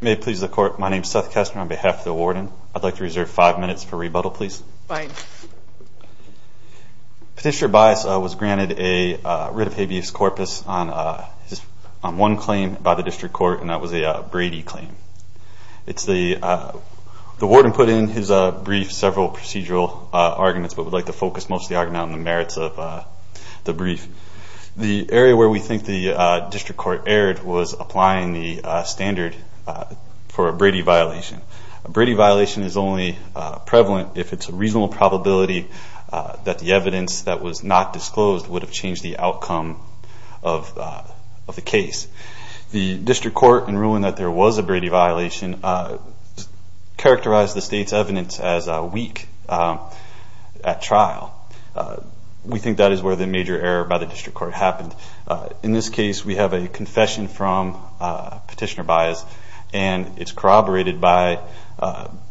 May it please the court, my name is Seth Kessler on behalf of the warden. I'd like to reserve five minutes for rebuttal please. Fine. Petitioner Bies was granted a writ of habeas corpus on one claim by the district court and that was a Brady claim. The warden put in his brief several procedural arguments but would like to focus mostly on the merits of the brief. The area where we think the district court erred was applying the standard for a Brady violation. A Brady violation is only prevalent if it's a reasonable probability that the evidence that was not disclosed would have changed the outcome of the case. The district court in ruling that there was a Brady violation characterized the state's week at trial. We think that is where the major error by the district court happened. In this case we have a confession from Petitioner Bies and it's corroborated by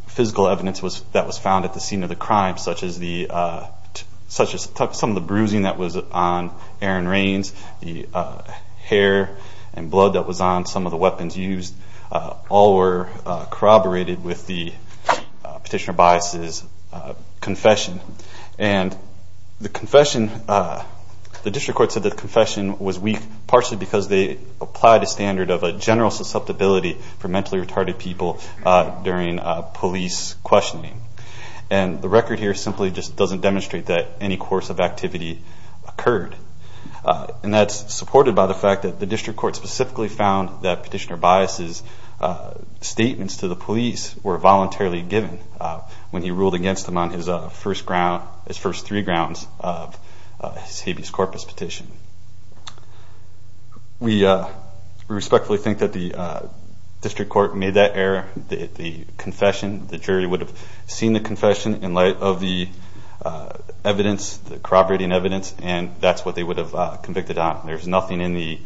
physical evidence that was found at the scene of the crime such as some of the bruising that was on Aaron Rains, the hair and blood that was on some of the weapons used, all were corroborated with the Petitioner Bies' confession. The district court said the confession was weak partially because they applied a standard of a general susceptibility for mentally retarded people during police questioning. The record here simply doesn't demonstrate that any course of activity occurred. That's supported by the fact that the district court specifically found that Petitioner Bies' statements to the police were voluntarily given when he ruled against him on his first three grounds of his habeas corpus petition. We respectfully think that the district court made that error. The confession, the jury would have seen the confession in light of the evidence, the corroborating evidence and that's what they would have convicted on. There's nothing in the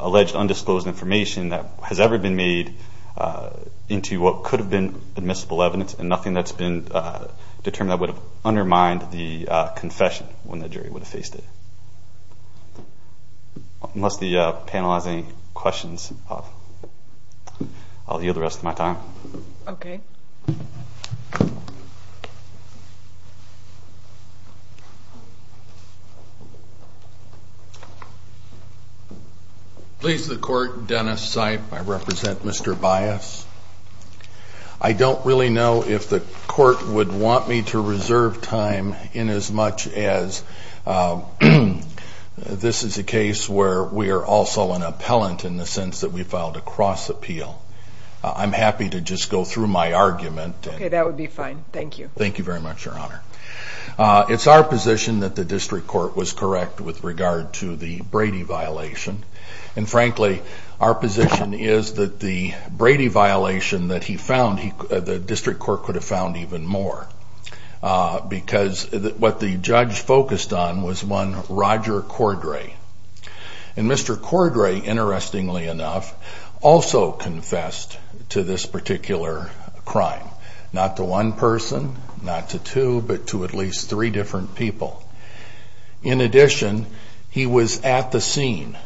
alleged undisclosed information that has ever been made into what could have been admissible evidence and nothing that's been determined that would have undermined the confession when the jury would have faced it. Unless the panel has any questions, I'll yield the rest of my time. Please the court, Dennis Sipe. I represent Mr. Bies. I don't really know if the court would want me to reserve time in as much as this is a case where we are also an appellant in the sense that we filed a cross-appeal. I'm happy to just go through my argument. Okay, that would be fine. Thank you. Thank you very much, Your Honor. It's our position that the district court was correct with regard to the Brady violation. And frankly, our position is that the Brady violation that he found, the district court could have found even more because what the judge focused on was one Roger Cordray. And Mr. Cordray, interestingly enough, also confessed to this particular crime. Not to one person, not to two, but to at least three different people. In addition, he was at the scene.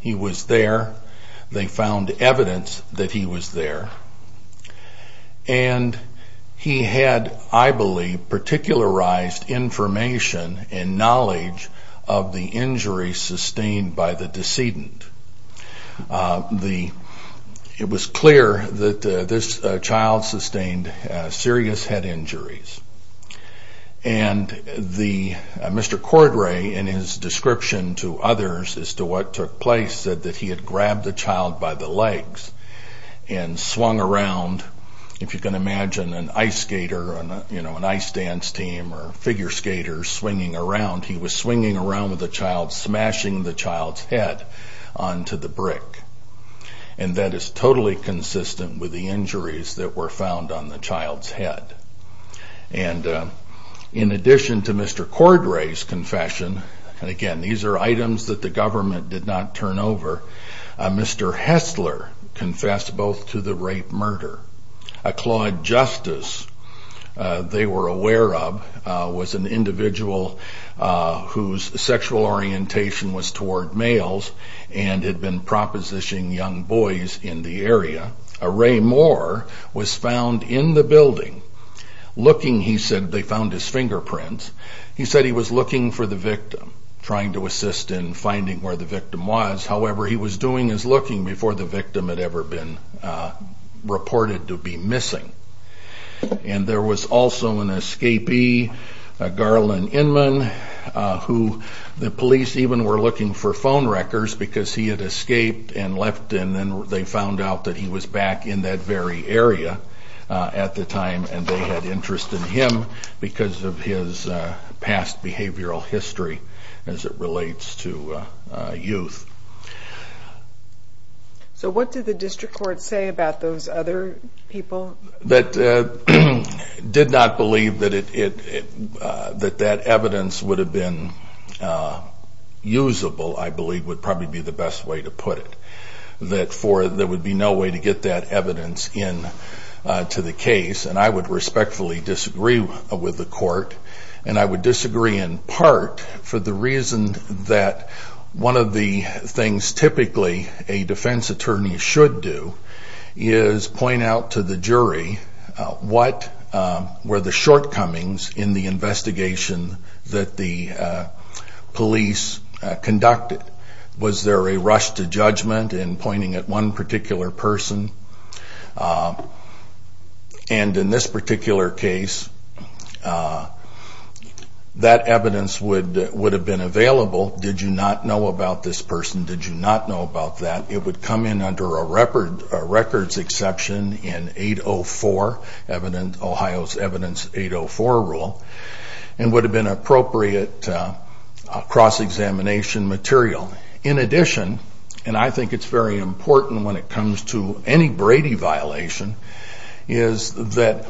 He was there. They found evidence that he was there. And he had, I believe, particularized information and knowledge of the injury sustained by the decedent. It was clear that this child sustained serious head injuries. And Mr. Cordray, in his description to others as to what took place, said that he had grabbed the child by the legs and swung around. If you can imagine an ice skater or an ice dance team or figure skater swinging around, he was swinging around with the child, smashing the child's head onto the brick. And that is totally consistent with the injuries that were found on the child's head. And in addition to Mr. Cordray's confession, and again, these are items that the government did not turn over, Mr. Hessler confessed both to the rape-murder. A Claude Justice they were aware of was an individual whose sexual orientation was toward males and had been propositioning young boys in the area. A Ray Moore was found in the building looking, he said, they found his fingerprints. He said he was looking for the victim, trying to assist in finding where the victim was. However, he was doing his looking before the victim had ever been reported to be missing. And there was also an escapee, a Garland Inman, who the police even were looking for phone records because he had escaped and left. And then they found out that he was back in that very area at the time and they had interest in him because of his past behavioral history as it relates to youth. So what did the district court say about those other people? That did not believe that that evidence would have been usable, I believe, would probably be the best way to put it. That there would be no way to get that evidence into the case. And I would respectfully disagree with the court. And I would disagree in part for the reason that one of the things typically a defense attorney should do is point out to the jury what were the shortcomings in the investigation that the police conducted. Was there a rush to judgment in pointing at one particular person? And in this particular case, that evidence would have been available. Did you not know about this person? Did you not know about that? It would come in under a records exception in 804, Ohio's Evidence 804 rule, and would have been appropriate cross-examination material. In addition, and I think it's very important when it comes to any Brady violation, is that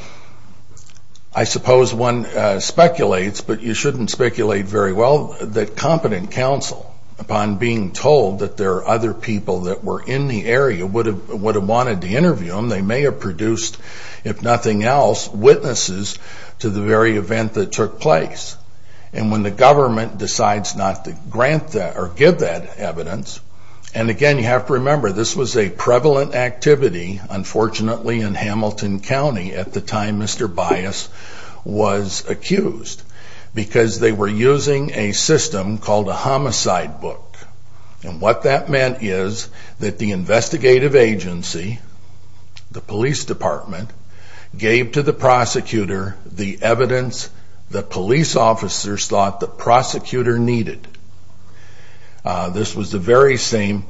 I suppose one speculates, but you shouldn't speculate very well, that competent counsel, upon being told that there are other people that were in the area, would have wanted to interview them. They may have produced, if nothing else, witnesses to the very event that took place. And when the government decides not to grant that or give that evidence, and again you have to remember this was a prevalent activity, unfortunately, in Hamilton County at the time Mr. Bias was accused, because they were using a system called a homicide book. And what that meant is that the investigative agency, the police department, gave to the prosecutor the evidence that police officers thought the prosecutor needed. This was the very same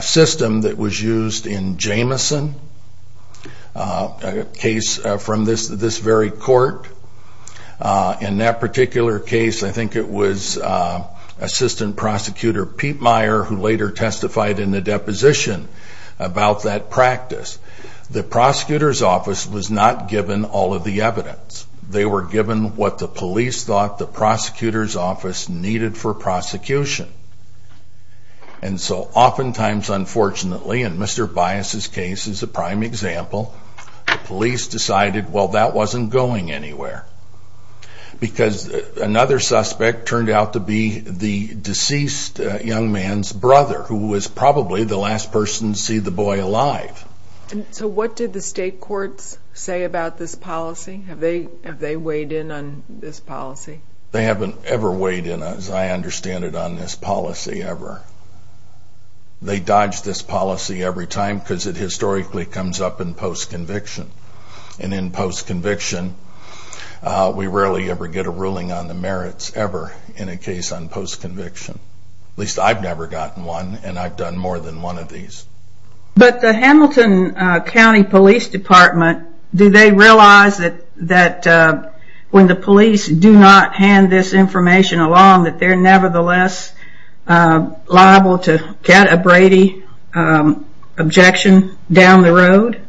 system that was used in Jamison, a case from this very court. In that particular case, I think it was assistant prosecutor Pete Meyer who later testified in the deposition about that practice. The prosecutor's office was not given all of the evidence. They were given what the police thought the prosecutor's office needed for prosecution. And so oftentimes, unfortunately, in Mr. Bias' case as a prime example, the police decided, well, that wasn't going anywhere. Because another suspect turned out to be the deceased young man's brother, who was probably the last person to see the boy alive. So what did the state courts say about this policy? Have they weighed in on this policy? They haven't ever weighed in, as I understand it, on this policy, ever. They dodge this policy every time because it historically comes up in post-conviction. And in post-conviction, we rarely ever get a ruling on the merits, ever, in a case on post-conviction. At least I've never gotten one, and I've done more than one of these. But the Hamilton County Police Department, do they realize that when the police do not hand this information along, that they're nevertheless liable to get a Brady objection down the road?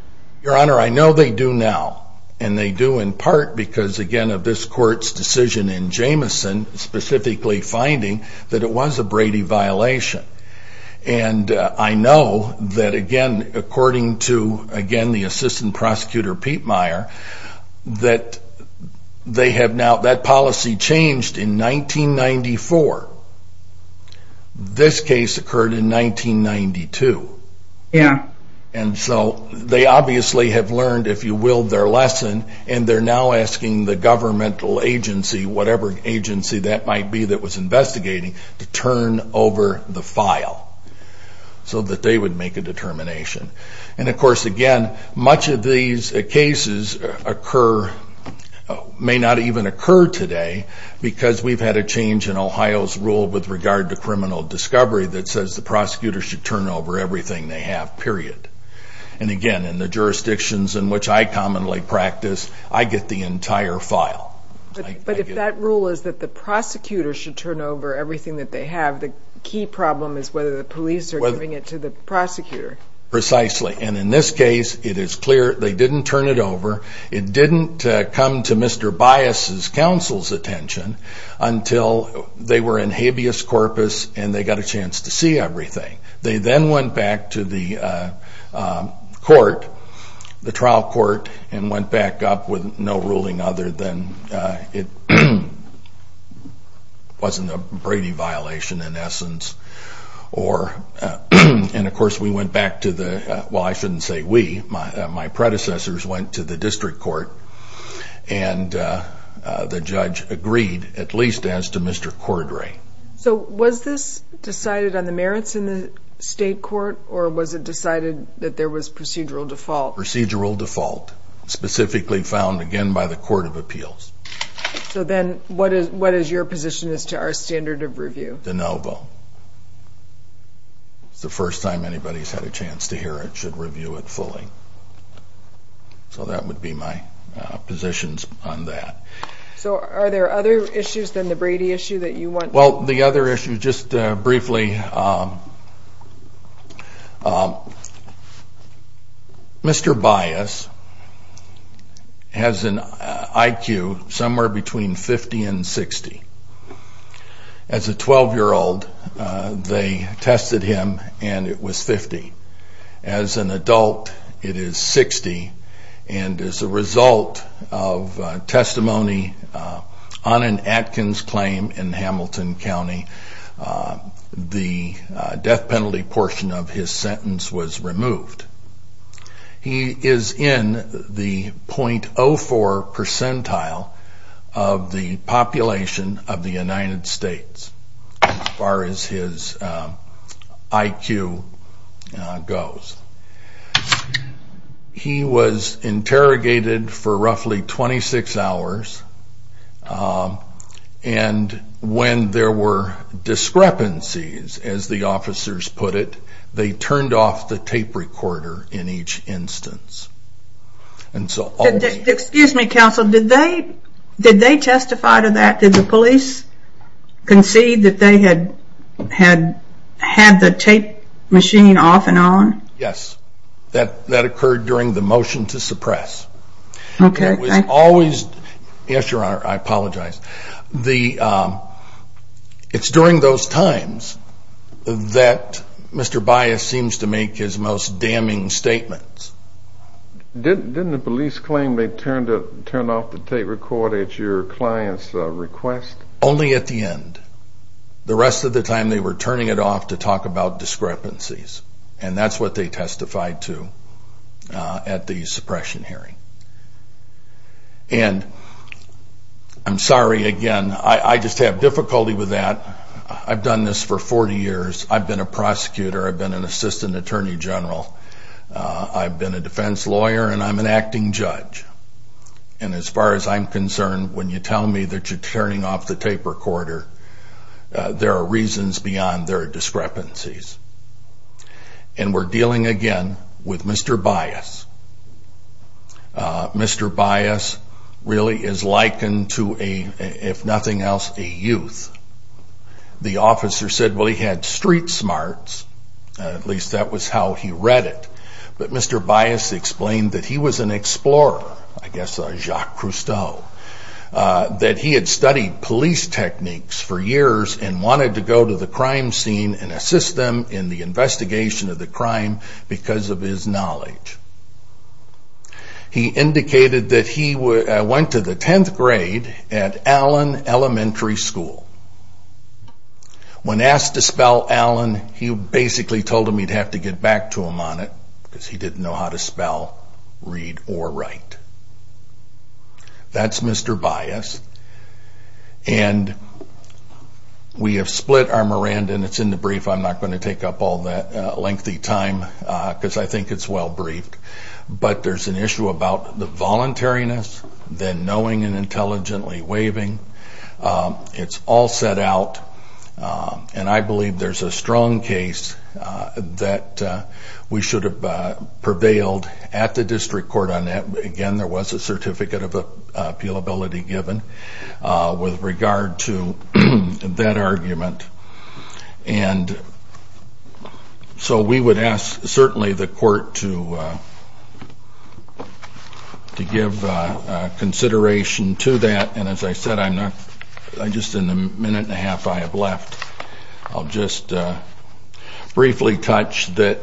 Your Honor, I know they do now. And they do in part because, again, of this court's decision in Jameson, specifically finding that it was a Brady violation. And I know that, again, according to, again, the assistant prosecutor, Pete Meyer, that they have now, that policy changed in 1994. This case occurred in 1992. Yeah. And so they obviously have learned, if you will, their lesson, and they're now asking the governmental agency, whatever agency that might be that was investigating, to turn over the file so that they would make a determination. And, of course, again, much of these cases occur, may not even occur today, because we've had a change in Ohio's rule with regard to criminal discovery that says the prosecutor should turn over everything they have, period. And, again, in the jurisdictions in which I commonly practice, I get the entire file. But if that rule is that the prosecutor should turn over everything that they have, the key problem is whether the police are giving it to the prosecutor. Precisely. And in this case, it is clear they didn't turn it over. It didn't come to Mr. Bias's counsel's attention until they were in habeas corpus and they got a chance to see everything. They then went back to the court, the trial court, and went back up with no ruling other than it wasn't a Brady violation in essence. And, of course, we went back to the, well, I shouldn't say we, my predecessors went to the district court, and the judge agreed, at least as to Mr. Cordray. So was this decided on the merits in the state court, or was it decided that there was procedural default? Procedural default, specifically found, again, by the Court of Appeals. So then what is your position as to our standard of review? De novo. It's the first time anybody's had a chance to hear it. It should review it fully. So that would be my positions on that. So are there other issues than the Brady issue that you want? Well, the other issue, just briefly, Mr. Bias has an IQ somewhere between 50 and 60. As a 12-year-old, they tested him, and it was 50. As an adult, it is 60, and as a result of testimony on an Atkins claim in Hamilton County, the death penalty portion of his sentence was removed. He is in the .04 percentile of the population of the United States, as far as his IQ goes. He was interrogated for roughly 26 hours, and when there were discrepancies, as the officers put it, they turned off the tape recorder in each instance. Excuse me, Counsel, did they testify to that? Did the police concede that they had had the tape machine off and on? Yes. That occurred during the motion to suppress. Okay. Yes, Your Honor, I apologize. It's during those times that Mr. Bias seems to make his most damning statements. Didn't the police claim they turned off the tape recorder at your client's request? Only at the end. The rest of the time, they were turning it off to talk about discrepancies, and that's what they testified to at the suppression hearing. And I'm sorry, again, I just have difficulty with that. I've done this for 40 years. I've been a prosecutor. I've been an assistant attorney general. I've been a defense lawyer, and I'm an acting judge. And as far as I'm concerned, when you tell me that you're turning off the tape recorder, there are reasons beyond there are discrepancies. And we're dealing again with Mr. Bias. Mr. Bias really is likened to a, if nothing else, a youth. The officer said, well, he had street smarts. At least that was how he read it. But Mr. Bias explained that he was an explorer. I guess a Jacques Cousteau. That he had studied police techniques for years and wanted to go to the crime scene and assist them in the investigation of the crime because of his knowledge. He indicated that he went to the 10th grade at Allen Elementary School. When asked to spell Allen, he basically told him he'd have to get back to him on it because he didn't know how to spell, read, or write. That's Mr. Bias. And we have split our Miranda, and it's in the brief. I'm not going to take up all that lengthy time because I think it's well briefed. But there's an issue about the voluntariness, then knowing and intelligently waiving. It's all set out, and I believe there's a strong case that we should have prevailed at the district court on that. Again, there was a certificate of appealability given with regard to that argument. And so we would ask certainly the court to give consideration to that. And as I said, just in the minute and a half I have left, I'll just briefly touch that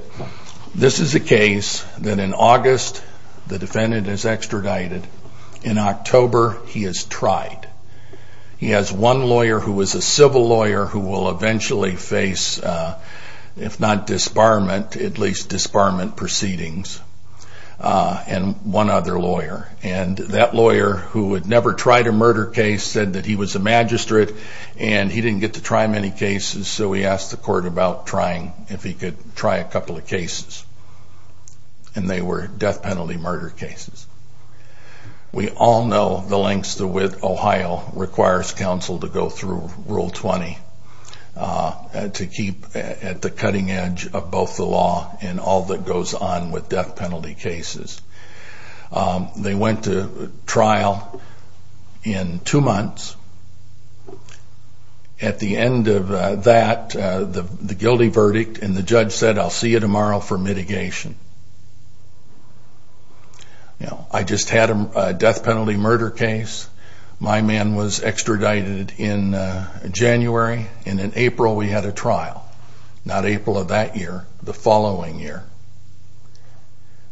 this is a case that in August the defendant is extradited. In October, he is tried. He has one lawyer who was a civil lawyer who will eventually face, if not disbarment, at least disbarment proceedings, and one other lawyer. And that lawyer, who had never tried a murder case, said that he was a magistrate and he didn't get to try many cases. So we asked the court about trying, if he could try a couple of cases, and they were death penalty murder cases. We all know the lengths to which Ohio requires counsel to go through Rule 20 to keep at the cutting edge of both the law and all that goes on with death penalty cases. They went to trial in two months. At the end of that, the guilty verdict, and the judge said, I'll see you tomorrow for mitigation. I just had a death penalty murder case. My man was extradited in January, and in April we had a trial. Not April of that year, the following year.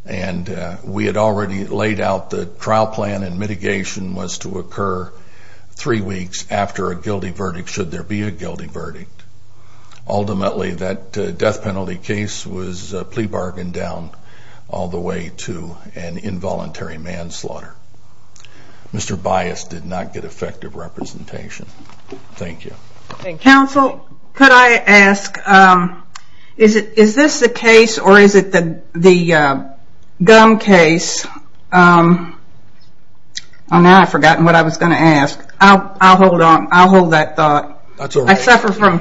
And we had already laid out the trial plan and mitigation was to occur three weeks after a guilty verdict, should there be a guilty verdict. Ultimately, that death penalty case was plea bargained down all the way to an involuntary manslaughter. Mr. Bias did not get effective representation. Thank you. Counsel, could I ask, is this the case or is it the gum case? Now I've forgotten what I was going to ask. I'll hold that thought. I suffer from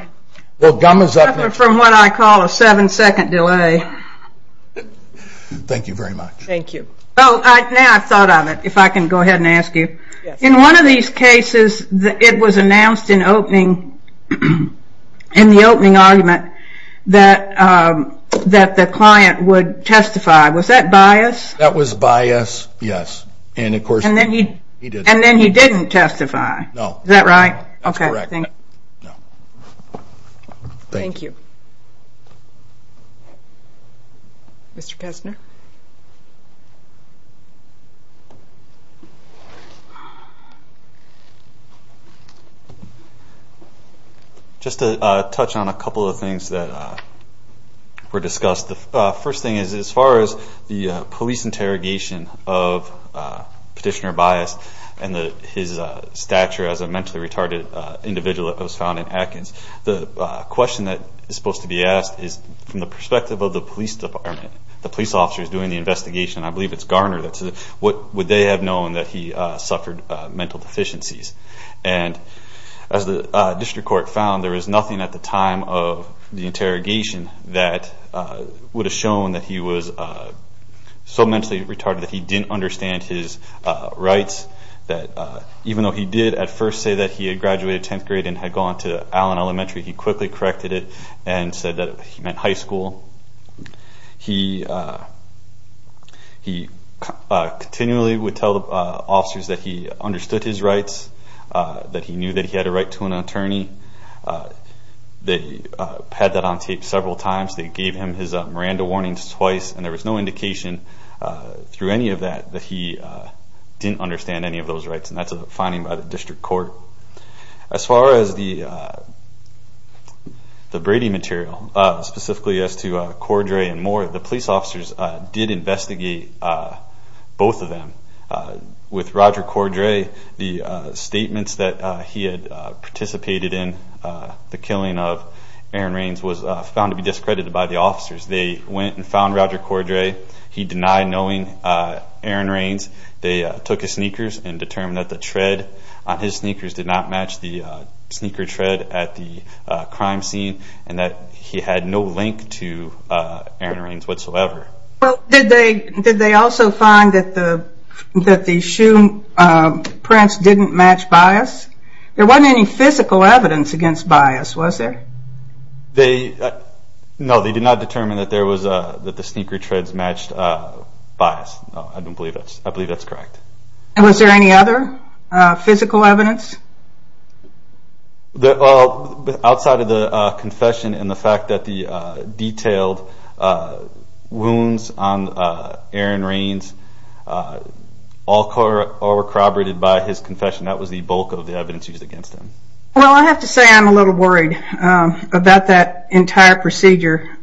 what I call a seven second delay. Thank you very much. Now I've thought of it, if I can go ahead and ask you. In one of these cases, it was announced in the opening argument that the client would testify. Was that Bias? That was Bias, yes. And then he didn't testify. No. Is that right? That's correct. Thank you. Thank you. Mr. Kessner. Just to touch on a couple of things that were discussed. The first thing is, as far as the police interrogation of Petitioner Bias and his stature as a mentally retarded individual that was found in Atkins, the question that is supposed to be asked is, from the perspective of the police department, the police officers doing the investigation, I believe it's Garner, what would they have known that he suffered mental deficiencies? And as the district court found, there was nothing at the time of the interrogation that would have shown that he was so mentally retarded that he didn't understand his rights, that even though he did at first say that he had graduated 10th grade and had gone to Allen Elementary, he quickly corrected it and said that he meant high school. He continually would tell the officers that he understood his rights, that he knew that he had a right to an attorney. They had that on tape several times. They gave him his Miranda warnings twice, and there was no indication through any of that that he didn't understand any of those rights, and that's a finding by the district court. As far as the Brady material, specifically as to Cordray and Moore, the police officers did investigate both of them. With Roger Cordray, the statements that he had participated in the killing of Aaron Rains was found to be discredited by the officers. They went and found Roger Cordray. He denied knowing Aaron Rains. They took his sneakers and determined that the tread on his sneakers did not match the sneaker tread at the crime scene and that he had no link to Aaron Rains whatsoever. Did they also find that the shoe prints didn't match bias? There wasn't any physical evidence against bias, was there? No, they did not determine that the sneaker treads matched bias. I believe that's correct. Was there any other physical evidence? Outside of the confession and the fact that the detailed wounds on Aaron Rains all were corroborated by his confession, that was the bulk of the evidence used against him. Well, I have to say I'm a little worried about that entire procedure.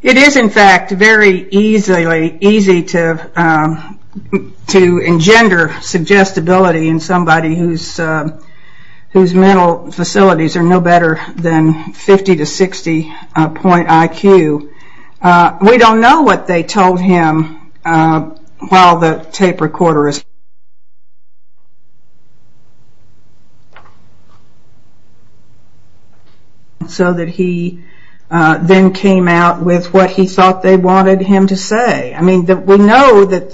It is, in fact, very easy to engender suggestibility in somebody whose mental facilities are no better than 50 to 60 point IQ. We don't know what they told him while the tape recorder was... So that he then came out with what he thought they wanted him to say. I mean, we know that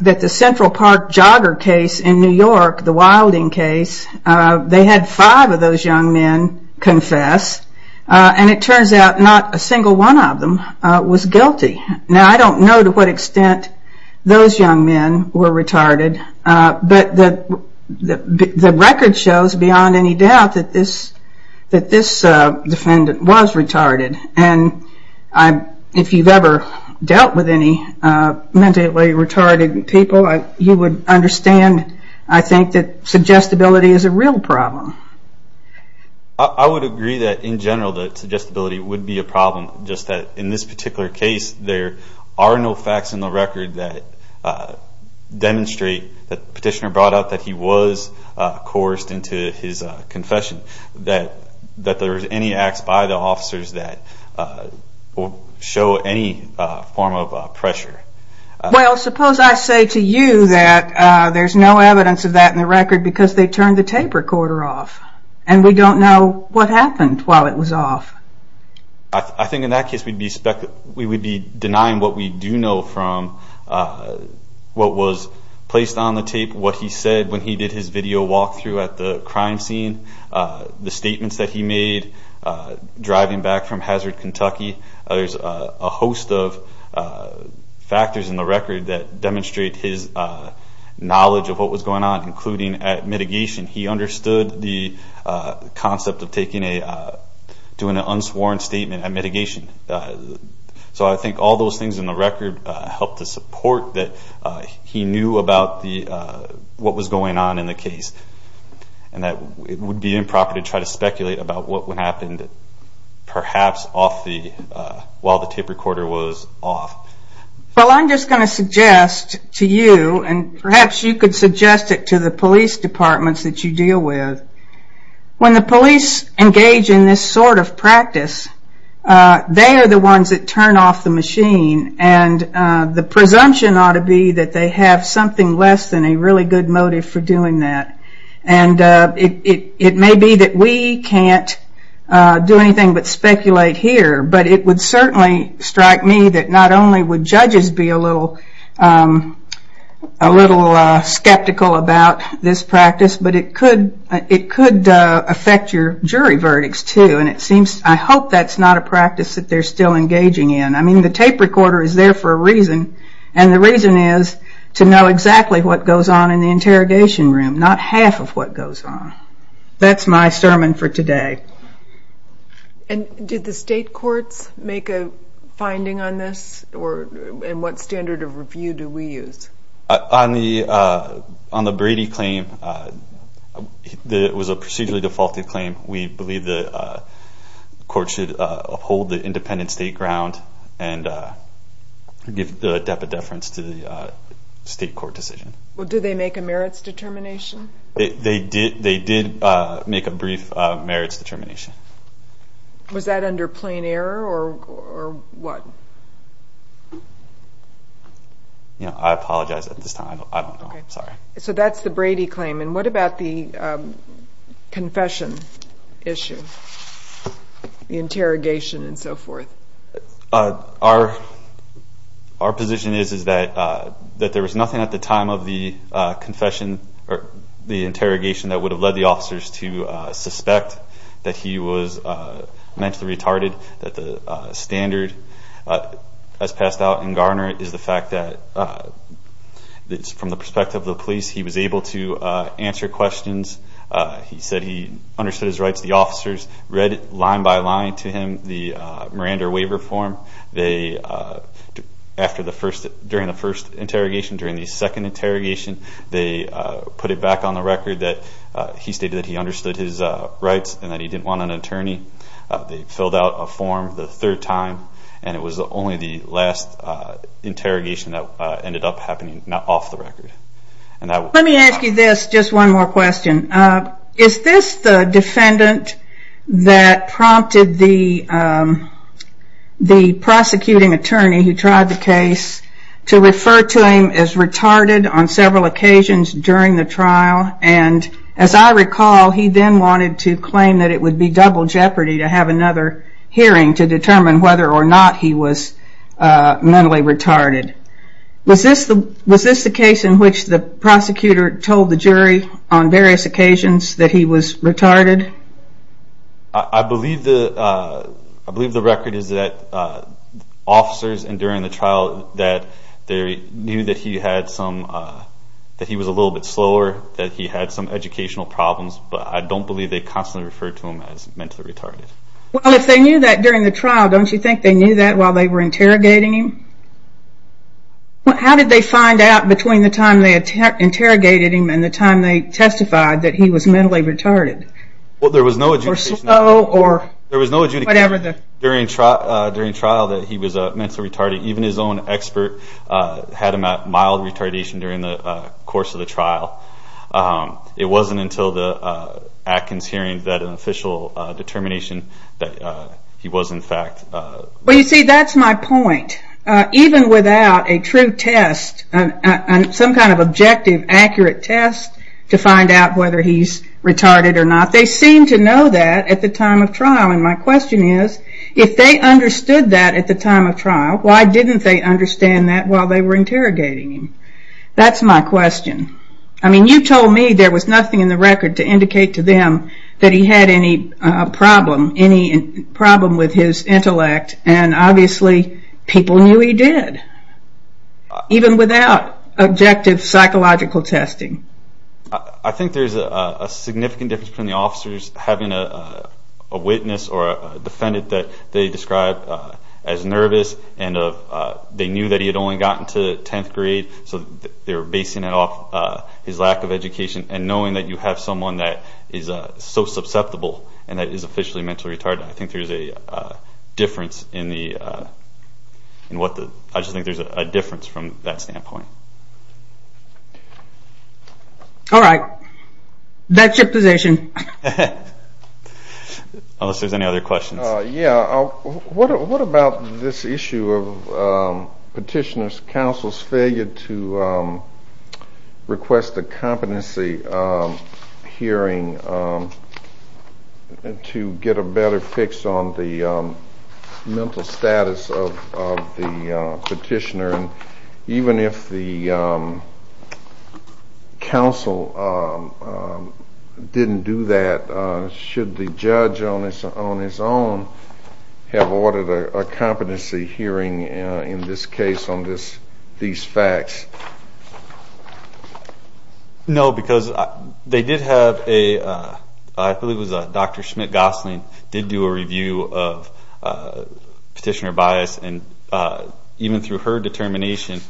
the Central Park jogger case in New York, the Wilding case, they had five of those young men confess, and it turns out not a single one of them was guilty. Now, I don't know to what extent those young men were retarded, but the record shows beyond any doubt that this defendant was retarded. And if you've ever dealt with any mentally retarded people, you would understand, I think, that suggestibility is a real problem. I would agree that, in general, that suggestibility would be a problem, just that, in this particular case, there are no facts in the record that demonstrate that the petitioner brought out that he was coerced into his confession, that there were any acts by the officers that show any form of pressure. Well, suppose I say to you that there's no evidence of that in the record because they turned the tape recorder off, and we don't know what happened while it was off. I think, in that case, we would be denying what we do know from what was placed on the tape, what he said when he did his video walkthrough at the crime scene, the statements that he made driving back from Hazard, Kentucky. There's a host of factors in the record that demonstrate his knowledge of what was going on, including at mitigation. He understood the concept of doing an unsworn statement at mitigation. So I think all those things in the record help to support that he knew about what was going on in the case, and that it would be improper to try to speculate about what happened, perhaps, while the tape recorder was off. Well, I'm just going to suggest to you, and perhaps you could suggest it to the police departments that you deal with. When the police engage in this sort of practice, they are the ones that turn off the machine, and the presumption ought to be that they have something less than a really good motive for doing that. It may be that we can't do anything but speculate here, but it would certainly strike me that not only would judges be a little skeptical about this practice, but it could affect your jury verdicts too. I hope that's not a practice that they're still engaging in. I mean, the tape recorder is there for a reason, and the reason is to know exactly what goes on in the interrogation room, not half of what goes on. That's my sermon for today. And did the state courts make a finding on this? And what standard of review do we use? On the Brady claim, it was a procedurally defaulted claim. We believe the court should uphold the independent state ground and give deputy deference to the state court decision. Well, did they make a merits determination? They did make a brief merits determination. Was that under plain error or what? I apologize at this time. I don't know. I'm sorry. So that's the Brady claim. And what about the confession issue, the interrogation and so forth? Our position is that there was nothing at the time of the confession or the interrogation that would have led the officers to suspect that he was mentally retarded, that the standard as passed out in Garner is the fact that from the perspective of the police, he was able to answer questions. He said he understood his rights. The officers read line by line to him. The Miranda waiver form, during the first interrogation, during the second interrogation, they put it back on the record that he stated that he understood his rights and that he didn't want an attorney. They filled out a form the third time, and it was only the last interrogation that ended up happening off the record. Let me ask you this, just one more question. Is this the defendant that prompted the prosecuting attorney who tried the case to refer to him as retarded on several occasions during the trial? And as I recall, he then wanted to claim that it would be double jeopardy to have another hearing to determine whether or not he was mentally retarded. Was this the case in which the prosecutor told the jury on various occasions that he was retarded? I believe the record is that officers during the trial knew that he was a little bit slower, that he had some educational problems, but I don't believe they constantly referred to him as mentally retarded. Well, if they knew that during the trial, don't you think they knew that while they were interrogating him? How did they find out between the time they interrogated him and the time they testified that he was mentally retarded? There was no adjudication during trial that he was mentally retarded. Even his own expert had him at mild retardation during the course of the trial. It wasn't until the Atkins hearing that an official determination that he was in fact retarded. Well, you see, that's my point. Even without a true test, some kind of objective, accurate test to find out whether he's retarded or not, they seemed to know that at the time of trial. And my question is, if they understood that at the time of trial, why didn't they understand that while they were interrogating him? That's my question. I mean, you told me there was nothing in the record to indicate to them that he had any problem with his intellect, and obviously people knew he did, even without objective psychological testing. I think there's a significant difference between the officers having a witness or a defendant that they described as nervous and they knew that he had only gotten to 10th grade, so they were basing it off his lack of education and knowing that you have someone that is so susceptible and that is officially mentally retarded. I think there's a difference in what the – I just think there's a difference from that standpoint. All right. That's your position. Unless there's any other questions. Yeah. What about this issue of petitioner's counsel's failure to request a competency hearing to get a better fix on the mental status of the petitioner? Even if the counsel didn't do that, should the judge on his own have ordered a competency hearing in this case on these facts? No, because they did have a – I believe it was Dr. Schmidt-Gosselin did do a review of petitioner bias, and even through her determination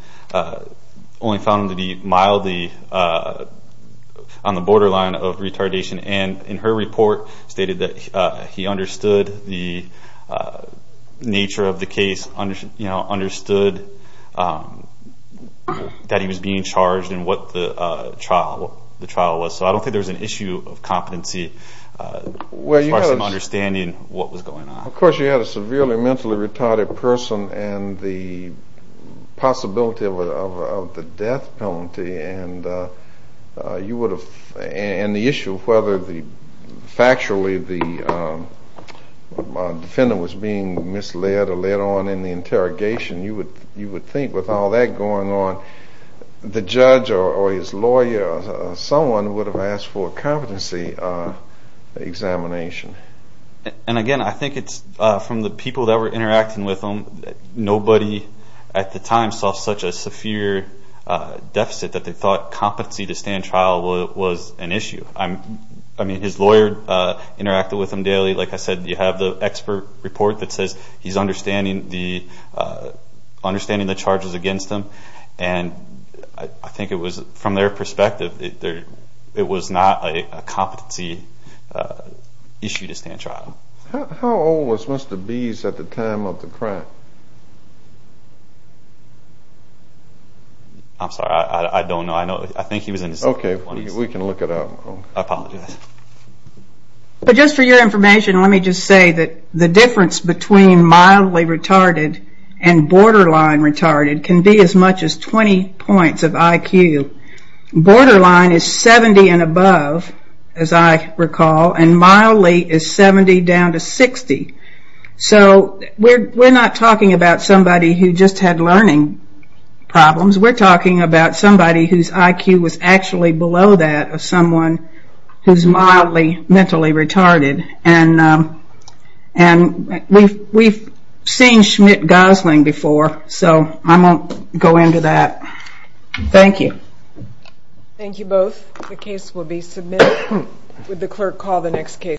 only found him to be mildly on the borderline of retardation, and in her report stated that he understood the nature of the case, understood that he was being charged and what the trial was. So I don't think there's an issue of competency as far as him understanding what was going on. Of course you had a severely mentally retarded person and the possibility of the death penalty and you would have – and the issue of whether factually the defendant was being misled or led on in the interrogation. You would think with all that going on, the judge or his lawyer or someone would have asked for a competency examination. And again, I think it's from the people that were interacting with him, nobody at the time saw such a severe deficit that they thought competency to stand trial was an issue. I mean, his lawyer interacted with him daily. Like I said, you have the expert report that says he's understanding the charges against him, and I think it was from their perspective it was not a competency issue to stand trial. How old was Mr. Bees at the time of the crime? I'm sorry, I don't know. I think he was in his 20s. Okay, we can look it up. I apologize. But just for your information, let me just say that the difference between mildly retarded and borderline retarded can be as much as 20 points of IQ. Borderline is 70 and above, as I recall, and mildly is 70 down to 60. So we're not talking about somebody who just had learning problems. We're talking about somebody whose IQ was actually below that of someone who's mildly mentally retarded. And we've seen Schmidt-Gosling before, so I won't go into that. Thank you. Thank you both. The case will be submitted. Would the clerk call the next case?